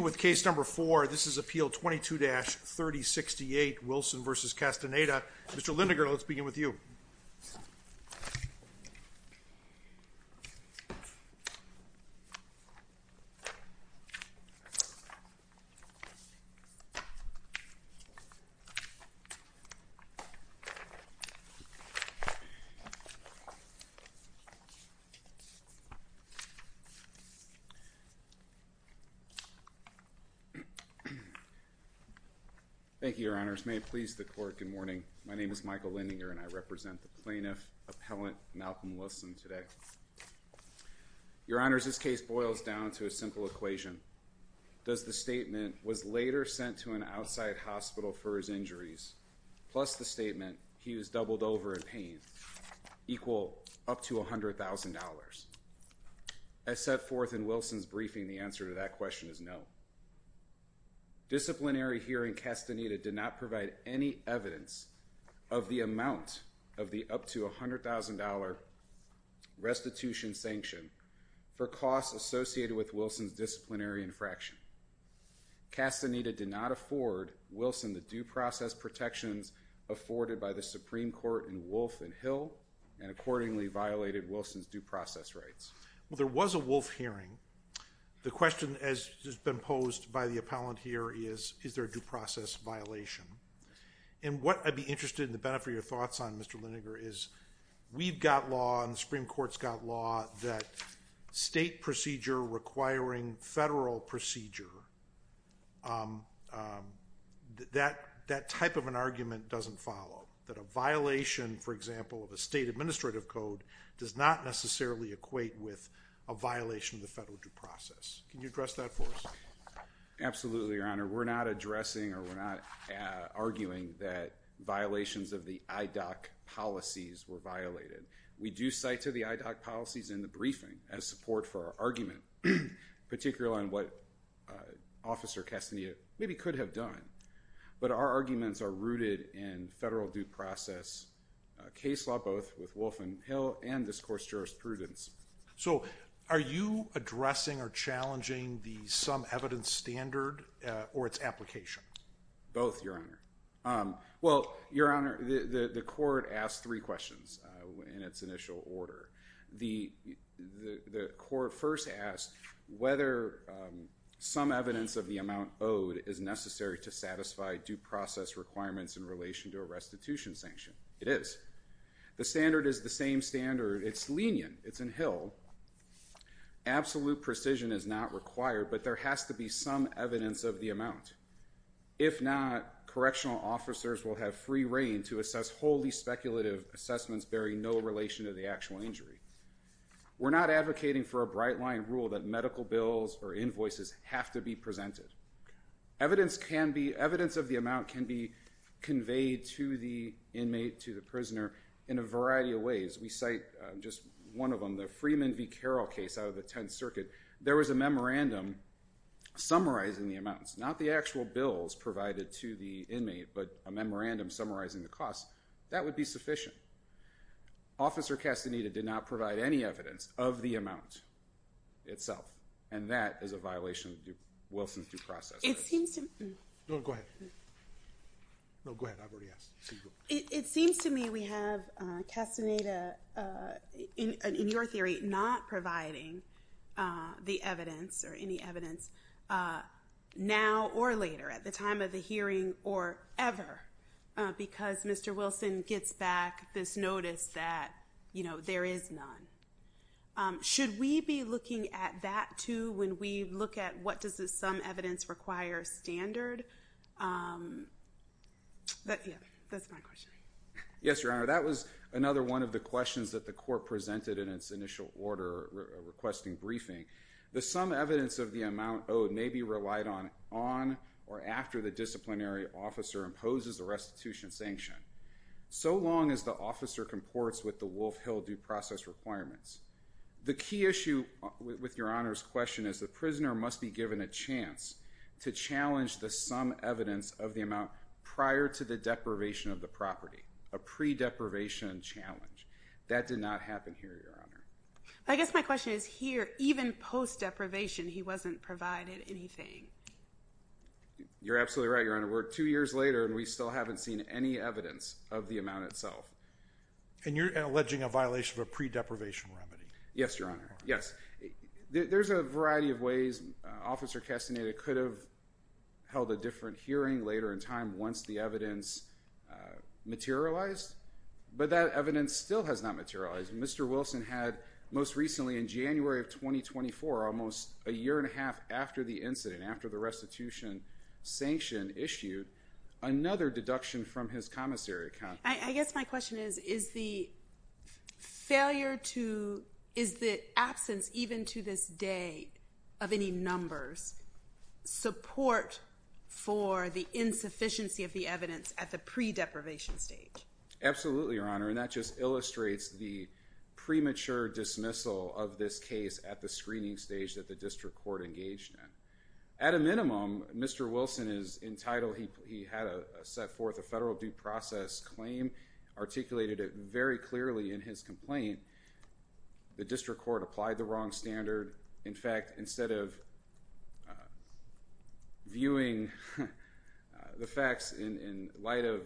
With case number four, this is appeal 22-3068 Wilson v. Castaneda. Mr. Lindegar, let's begin with you. Thank you, Your Honors. May it please the court, good morning. My name is Michael Lendinger and I represent the plaintiff, appellant Malcolm Wilson today. Your Honors, this case boils down to a simple equation. Does the statement, was later sent to an outside hospital for his injuries, plus the statement, he was doubled over in pain, equal up to $100,000? As set forth in Wilson's briefing, the answer to that question is no. Disciplinary hearing Castaneda did not provide any evidence of the amount of the up to $100,000 restitution sanction for costs associated with Wilson's disciplinary infraction. Castaneda did not afford Wilson the due process protections afforded by the Supreme Court in Wolf and Hill and accordingly violated Wilson's due process rights. Well, there was a Wolf hearing. The question as has been posed by the appellant here is, is there a due process violation? And what I'd be interested in the benefit of your thoughts on, Mr. Lindegar, is we've got law and the Supreme Court's got law that state procedure requiring federal procedure, that type of an argument doesn't follow. That a violation, for example, of a state administrative code does not necessarily equate with a violation of the federal due process. Can you address that for us? Absolutely, Your Honor. We're not addressing or we're not arguing that violations of the IDOC policies were violated. We do cite to the IDOC policies in the briefing as support for our argument, particularly on what Officer Castaneda maybe could have done. But our arguments are rooted in federal due process case law, both with Wolf and Hill and this course jurisprudence. So are you addressing or challenging the some evidence standard or its application? Both, Your Honor. Well, Your Honor, the court asked three questions in its initial order. The court first asked whether some evidence of the amount owed is necessary to satisfy due process requirements in relation to a restitution sanction. It is. The standard is the same standard. It's lenient. It's in Hill. Absolute precision is not required, but there has to be some evidence of the amount. If not, correctional officers will have free reign to assess wholly speculative assessments bearing no relation to the actual injury. We're not advocating for a bright line rule that medical bills or invoices have to be presented. Evidence of the amount can be conveyed to the inmate, to the prisoner, in a variety of ways. We cite just one of them, the Freeman v. Carroll case out of the Tenth Circuit. There was a memorandum summarizing the amounts, not the actual bills provided to the inmate, but a memorandum summarizing the costs. That would be sufficient. Officer Castaneda did not provide any evidence of the amount itself, and that is a violation of Wilson's due process. It seems to me we have Castaneda, in your theory, not providing the evidence or any evidence now or later at the time of the hearing or ever because Mr. Wilson gets back this notice that there is none. Should we be looking at that, too, when we look at what does the sum evidence require standard? That's my question. Yes, Your Honor, that was another one of the questions that the court presented in its initial order requesting briefing. The sum evidence of the amount owed may be relied on or after the disciplinary officer imposes a restitution sanction, so long as the officer comports with the Wolf Hill due process requirements. The key issue with Your Honor's question is the prisoner must be given a chance to challenge the sum evidence of the amount prior to the deprivation of the property, a pre-deprivation challenge. That did not happen here, Your Honor. I guess my question is here, even post-deprivation, he wasn't provided anything. You're absolutely right, Your Honor. We're two years later, and we still haven't seen any evidence of the amount itself. And you're alleging a violation of a pre-deprivation remedy. Yes, Your Honor. Yes. There's a variety of ways Officer Castaneda could have held a different hearing later in time once the evidence materialized, but that evidence still has not materialized. Mr. Wilson had, most recently in January of 2024, almost a year and a half after the incident, after the restitution sanction issued, another deduction from his commissary account. I guess my question is, is the absence, even to this day, of any numbers, support for the insufficiency of the evidence at the pre-deprivation stage? Absolutely, Your Honor. And that just illustrates the premature dismissal of this case at the screening stage that the district court engaged in. At a minimum, Mr. Wilson is entitled, he had set forth a federal due process claim, articulated it very clearly in his complaint. The district court applied the wrong standard. In fact, instead of viewing the facts in light of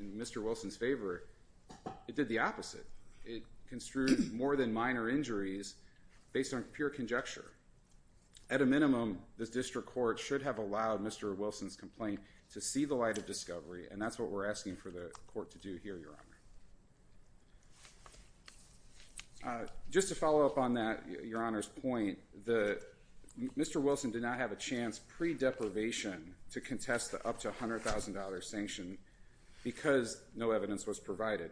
Mr. Wilson's favor, it did the opposite. It construed more than minor injuries based on pure conjecture. At a minimum, this district court should have allowed Mr. Wilson's complaint to see the light of discovery, and that's what we're asking for the court to do here, Your Honor. Just to follow up on that, Your Honor's point, Mr. Wilson did not have a chance pre-deprivation to contest the up to $100,000 sanction because no evidence was provided.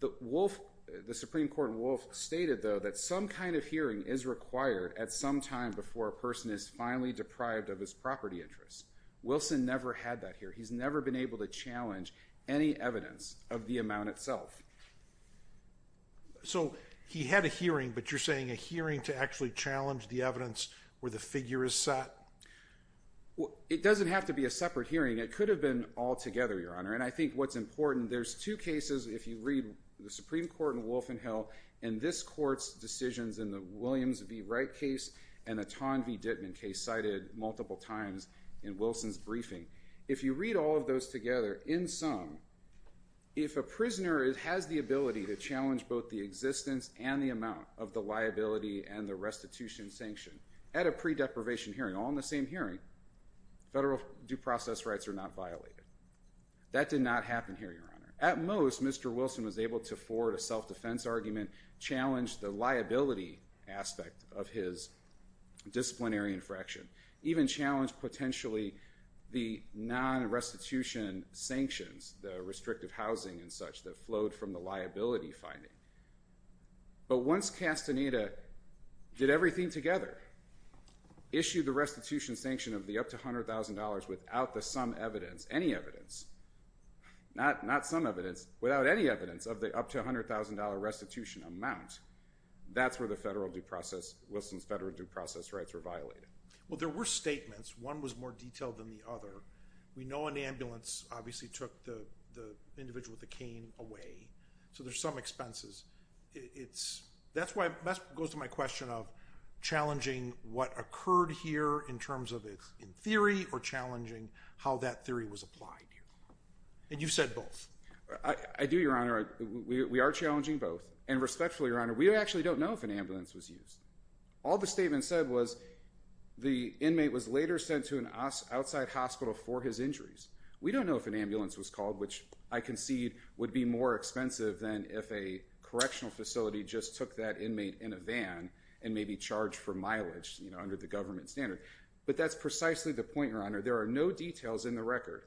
The Supreme Court in Wolf stated, though, that some kind of hearing is required at some time before a person is finally deprived of his property interests. Wilson never had that here. He's never been able to challenge any evidence of the amount itself. So he had a hearing, but you're saying a hearing to actually challenge the evidence where the figure is set? It doesn't have to be a separate hearing. It could have been all together, Your Honor. And I think what's important, there's two cases, if you read the Supreme Court in Wolf and Hill, and this court's decisions in the Williams v. Wright case and the Ton v. Dittman case cited multiple times in Wilson's briefing. If you read all of those together, in sum, if a prisoner has the ability to challenge both the existence and the amount of the liability and the restitution sanction at a pre-deprivation hearing, all in the same hearing, federal due process rights are not violated. That did not happen here, Your Honor. At most, Mr. Wilson was able to forward a self-defense argument, challenge the liability aspect of his disciplinary infraction, even challenge potentially the non-restitution sanctions, the restrictive housing and such that flowed from the liability finding. But once Castaneda did everything together, issued the restitution sanction of the up to $100,000 without the sum evidence, any evidence, not sum evidence, without any evidence of the up to $100,000 restitution amount, that's where the federal due process, Wilson's federal due process rights were violated. Well, there were statements. One was more detailed than the other. We know an ambulance obviously took the individual with the cane away, so there's some expenses. It's, that's why, that goes to my question of challenging what occurred here in terms of in theory or challenging how that theory was applied. And you've said both. I do, Your Honor. We are challenging both. And respectfully, Your Honor, we actually don't know if an ambulance was used. All the statement said was the inmate was later sent to an outside hospital for his injuries. We don't know if an ambulance was called, which I concede would be more expensive than if a correctional facility just took that inmate in a van and maybe charged for mileage, you know, under the government standard. But that's precisely the point, Your Honor. There are no details in the record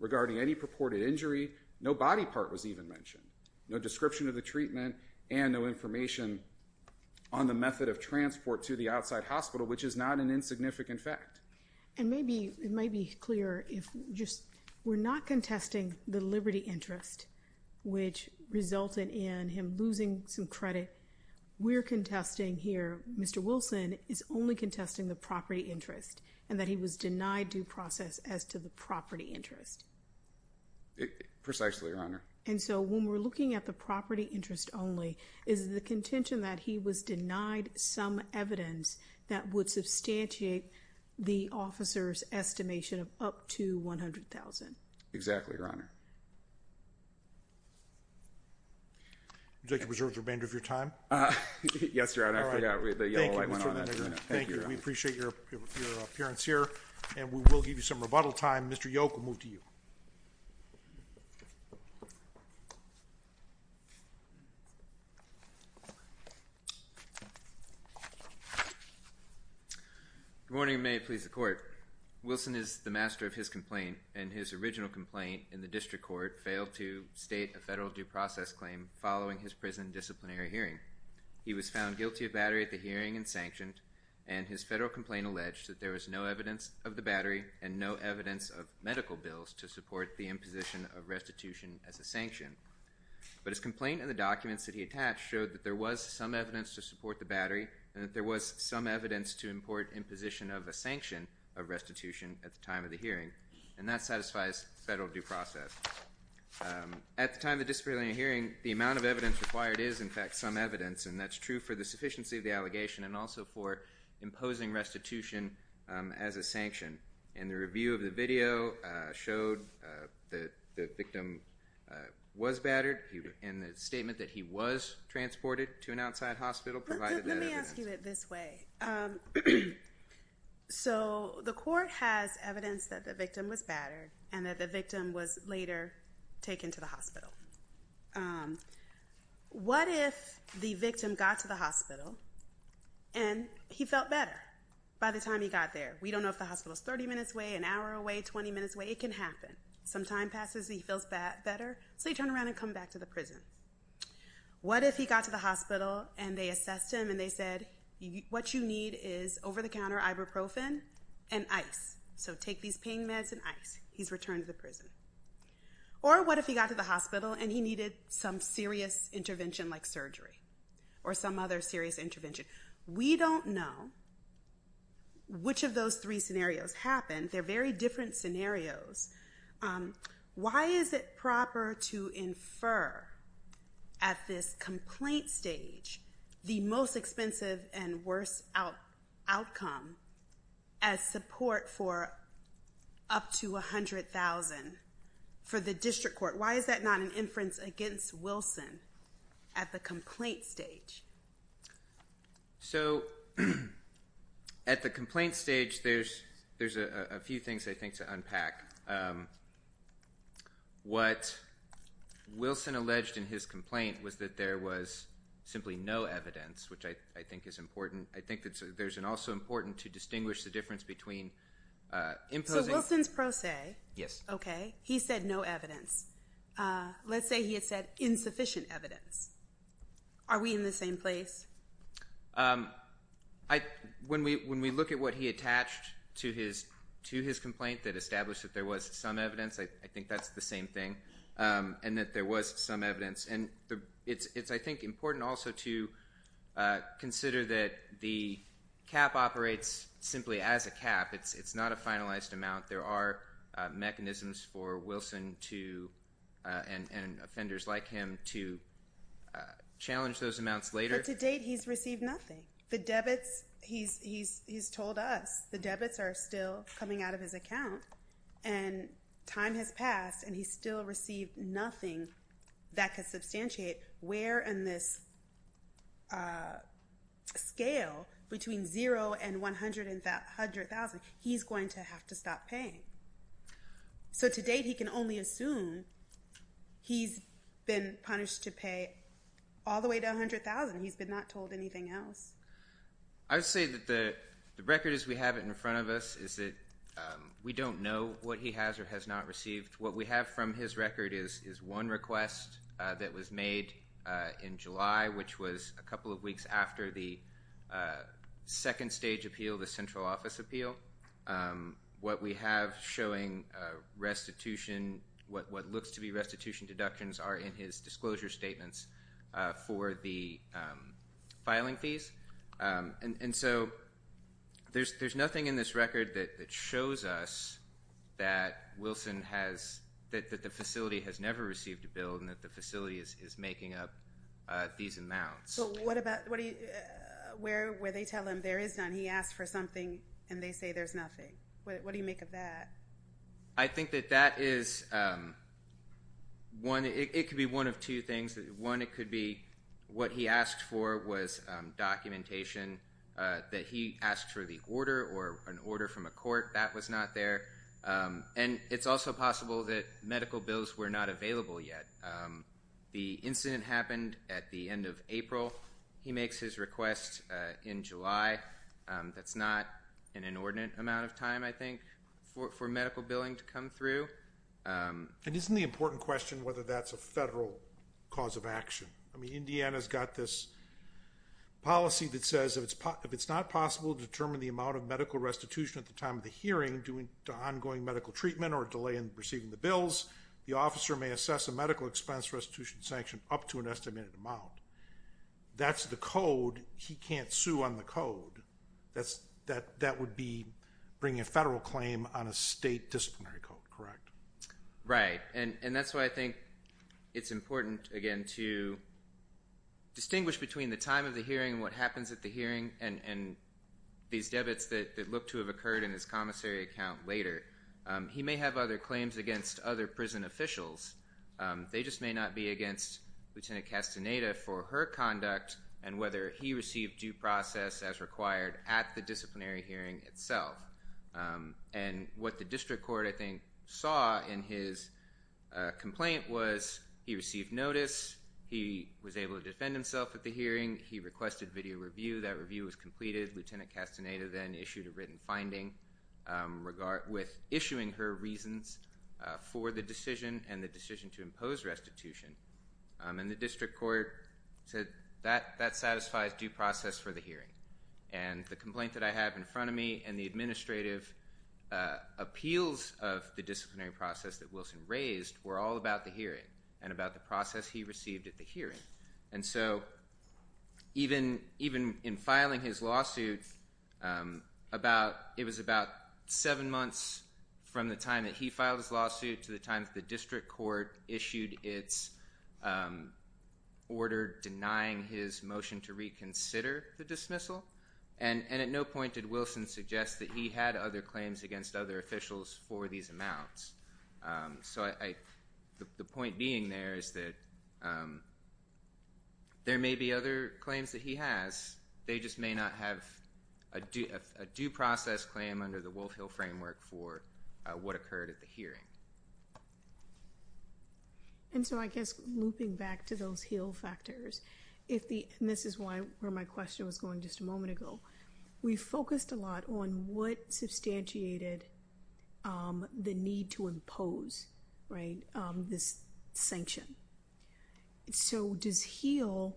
regarding any purported injury. No body part was even mentioned. No description of the treatment and no information on the method of transport to the outside hospital, which is not an insignificant fact. And maybe, it might be clear if just, we're not contesting the liberty interest, which resulted in him losing some credit. We're contesting here, Mr. Wilson is only contesting the property interest and that he was denied due process as to the property interest. Precisely, Your Honor. And so, when we're looking at the property interest only, is the contention that he was denied some evidence that would substantiate the officer's estimation of up to $100,000? Exactly, Your Honor. Would you like to preserve the remainder of your time? Yes, Your Honor. I forgot the yellow light went on. Thank you, Mr. Lindgren. Thank you. We appreciate your appearance here and we will give you some rebuttal time. Mr. Yoke, we'll move to you. Good morning, and may it please the Court. Wilson is the master of his complaint, and his original complaint in the district court failed to state a federal due process claim following his prison disciplinary hearing. He was found guilty of battery at the hearing and sanctioned, and his federal complaint alleged that there was no evidence of the battery and no evidence of medical bills to support the imposition of restitution as a sanction. But his complaint and the documents that he attached showed that there was some evidence to support the battery and that there was some evidence to import imposition of a sanction of restitution at the time of the hearing, and that satisfies federal due process. At the time of the disciplinary hearing, the amount of evidence required is, in fact, some evidence, and that's true for the sufficiency of the allegation and also for imposing restitution as a sanction. And the review of the video showed that the victim was battered, and the statement that he was transported to an outside hospital provided that evidence. I'll argue it this way. So the court has evidence that the victim was battered and that the victim was later taken to the hospital. What if the victim got to the hospital and he felt better by the time he got there? We don't know if the hospital is 30 minutes away, an hour away, 20 minutes away. It can happen. Some time passes. He feels better, so he turned around and come back to the prison. What if he got to the hospital and they assessed him and they said, what you need is over-the-counter ibuprofen and ice. So take these pain meds and ice. He's returned to the prison. Or what if he got to the hospital and he needed some serious intervention like surgery or some other serious intervention? We don't know which of those three scenarios happened. They're very different scenarios. Why is it proper to infer at this complaint stage the most expensive and worst outcome as support for up to $100,000 for the district court? Why is that not an inference against Wilson at the complaint stage? So at the complaint stage, there's a few things, I think, to unpack. What Wilson alleged in his complaint was that there was simply no evidence, which I think is important. I think that there's an also important to distinguish the difference between imposing. So Wilson's pro se. Yes. Okay. He said no evidence. Let's say he had said insufficient evidence. Are we in the same place? When we look at what he attached to his complaint that established that there was some evidence, I think that's the same thing, and that there was some evidence. And it's, I think, important also to consider that the cap operates simply as a cap. It's not a finalized amount. There are mechanisms for Wilson and offenders like him to challenge those amounts later. But to date, he's received nothing. He's told us the debits are still coming out of his account, and time has passed, and he's still received nothing that could substantiate where in this scale between zero and 100,000, he's going to have to stop paying. So to date, he can only assume he's been punished to pay all the way to 100,000. He's been not told anything else. I would say that the record as we have it in front of us is that we don't know what he has or has not received. What we have from his record is one request that was made in July, which was a couple of weeks after the second stage appeal, the central office appeal. What we have showing restitution, what looks to be restitution deductions, are in his disclosure statements for the filing fees. And so there's nothing in this record that shows us that the facility has never received a bill and that the facility is making up these amounts. So what about where they tell him there is none? He asks for something, and they say there's nothing. What do you make of that? I think that that is one. It could be one of two things. One, it could be what he asked for was documentation that he asked for the order or an order from a court that was not there. And it's also possible that medical bills were not available yet. The incident happened at the end of April. He makes his request in July. That's not an inordinate amount of time, I think, for medical billing to come through. And isn't the important question whether that's a federal cause of action? Indiana's got this policy that says if it's not possible to determine the amount of medical restitution at the time of the hearing due to ongoing medical treatment or delay in receiving the bills, the officer may assess a medical expense restitution sanction up to an estimated amount. That's the code. He can't sue on the code. That would be bringing a federal claim on a state disciplinary code, correct? Right. And that's why I think it's important, again, to distinguish between the time of the hearing and what happens at the hearing and these debits that look to have occurred in his commissary account later. He may have other claims against other prison officials. They just may not be against Lieutenant Castaneda for her conduct and whether he received due process as required at the disciplinary hearing itself. And what the district court, I think, saw in his complaint was he received notice. He was able to defend himself at the hearing. He requested video review. That review was completed. Lieutenant Castaneda then issued a written finding with issuing her reasons for the decision and the decision to impose restitution. And the district court said that satisfies due process for the hearing. And the complaint that I have in front of me and the administrative appeals of the disciplinary process that Wilson raised were all about the hearing and about the process he received at the hearing. And so even in filing his lawsuit, it was about seven months from the time that he filed his lawsuit to the time that the district court issued its order denying his motion to reconsider the dismissal. And at no point did Wilson suggest that he had other claims against other officials for these amounts. So the point being there is that there may be other claims that he has. They just may not have a due process claim under the Wolf Hill framework for what occurred at the hearing. And so I guess looping back to those Hill factors, and this is where my question was going just a moment ago, we focused a lot on what substantiated the need to impose this sanction. So does Hill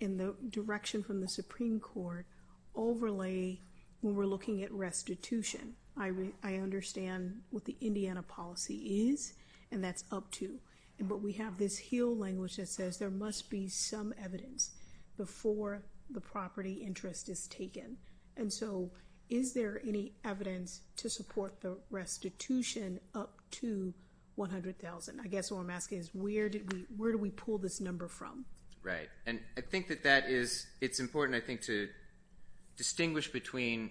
in the direction from the Supreme Court overlay when we're looking at restitution? I understand what the Indiana policy is, and that's up to. But we have this Hill language that says there must be some evidence before the property interest is taken. And so is there any evidence to support the restitution up to $100,000? I guess what I'm asking is where do we pull this number from? Right, and I think that it's important, I think, to distinguish between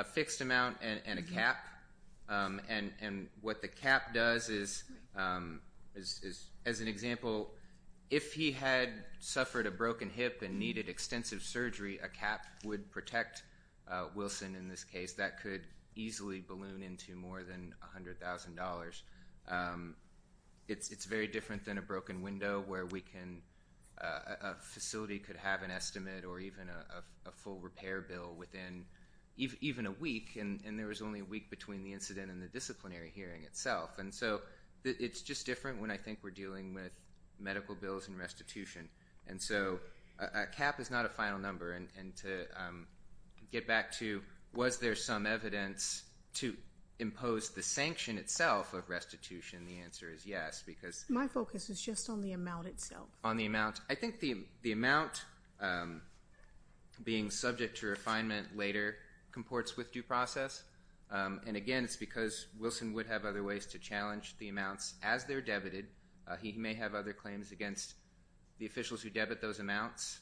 a fixed amount and a cap. And what the cap does is, as an example, if he had suffered a broken hip and needed extensive surgery, a cap would protect Wilson in this case. That could easily balloon into more than $100,000. It's very different than a broken window where a facility could have an estimate or even a full repair bill within even a week, and there was only a week between the incident and the disciplinary hearing itself. And so it's just different when I think we're dealing with medical bills and restitution. And so a cap is not a final number. And to get back to was there some evidence to impose the sanction itself of restitution, the answer is yes. My focus is just on the amount itself. On the amount. I think the amount, being subject to refinement later, comports with due process. And, again, it's because Wilson would have other ways to challenge the amounts as they're debited. He may have other claims against the officials who debit those amounts.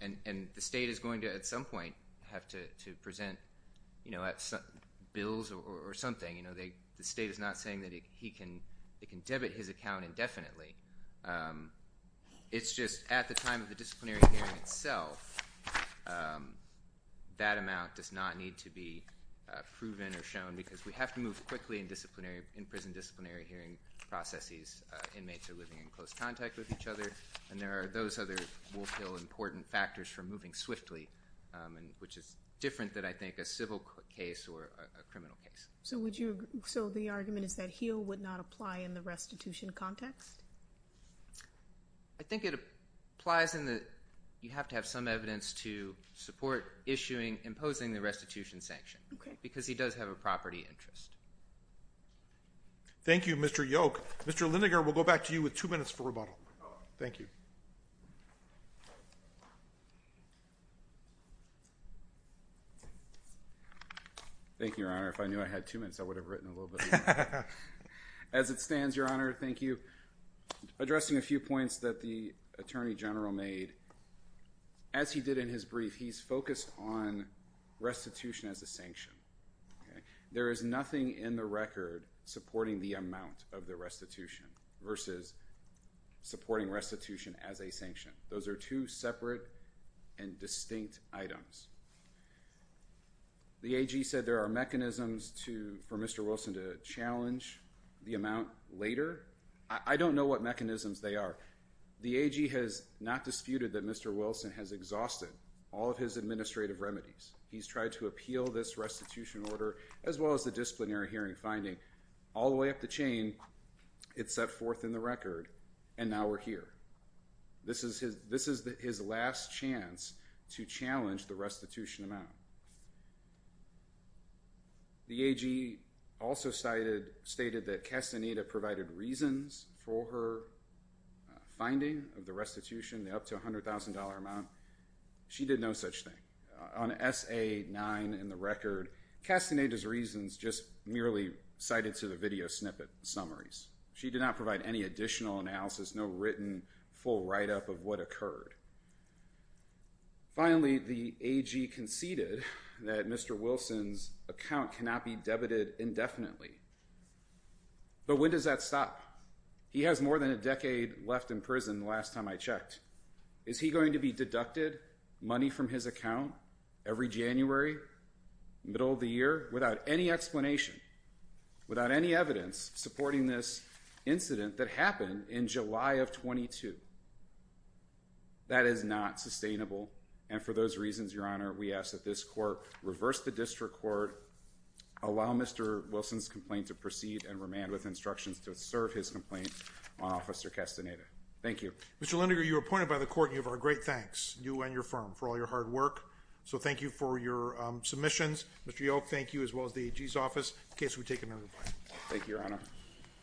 And the state is going to, at some point, have to present bills or something. The state is not saying that it can debit his account indefinitely. It's just at the time of the disciplinary hearing itself, that amount does not need to be proven or shown because we have to move quickly in prison disciplinary hearing processes. Inmates are living in close contact with each other, and there are those other important factors for moving swiftly, which is different than, I think, a civil case or a criminal case. So the argument is that HEAL would not apply in the restitution context? I think it applies in that you have to have some evidence to support issuing, imposing the restitution sanction. Okay. Because he does have a property interest. Thank you, Mr. Yoke. Mr. Lindegar, we'll go back to you with two minutes for rebuttal. Thank you. Thank you, Your Honor. If I knew I had two minutes, I would have written a little bit more. As it stands, Your Honor, thank you. Addressing a few points that the Attorney General made, as he did in his brief, he's focused on restitution as a sanction. There is nothing in the record supporting the amount of the restitution versus supporting restitution as a sanction. Those are two separate and distinct items. The AG said there are mechanisms for Mr. Wilson to challenge the amount later. I don't know what mechanisms they are. The AG has not disputed that Mr. Wilson has exhausted all of his administrative remedies. He's tried to appeal this restitution order as well as the disciplinary hearing finding. All the way up the chain, it's set forth in the record, and now we're here. This is his last chance to challenge the restitution amount. The AG also stated that Castaneda provided reasons for her finding of the restitution, the up to $100,000 amount. She did no such thing. On SA-9 in the record, Castaneda's reasons just merely cited to the video snippet summaries. She did not provide any additional analysis, no written full write-up of what occurred. Finally, the AG conceded that Mr. Wilson's account cannot be debited indefinitely. But when does that stop? He has more than a decade left in prison the last time I checked. Is he going to be deducted money from his account every January, middle of the year, without any explanation, without any evidence supporting this incident that happened in July of 22? That is not sustainable. And for those reasons, Your Honor, we ask that this court reverse the district court, allow Mr. Wilson's complaint to proceed and remand with instructions to serve his complaint on Officer Castaneda. Thank you. Mr. Linderger, you were appointed by the court, and you have our great thanks, you and your firm, for all your hard work. So thank you for your submissions. Mr. Yoke, thank you, as well as the AG's office, in case we take another vote. Thank you, Your Honor.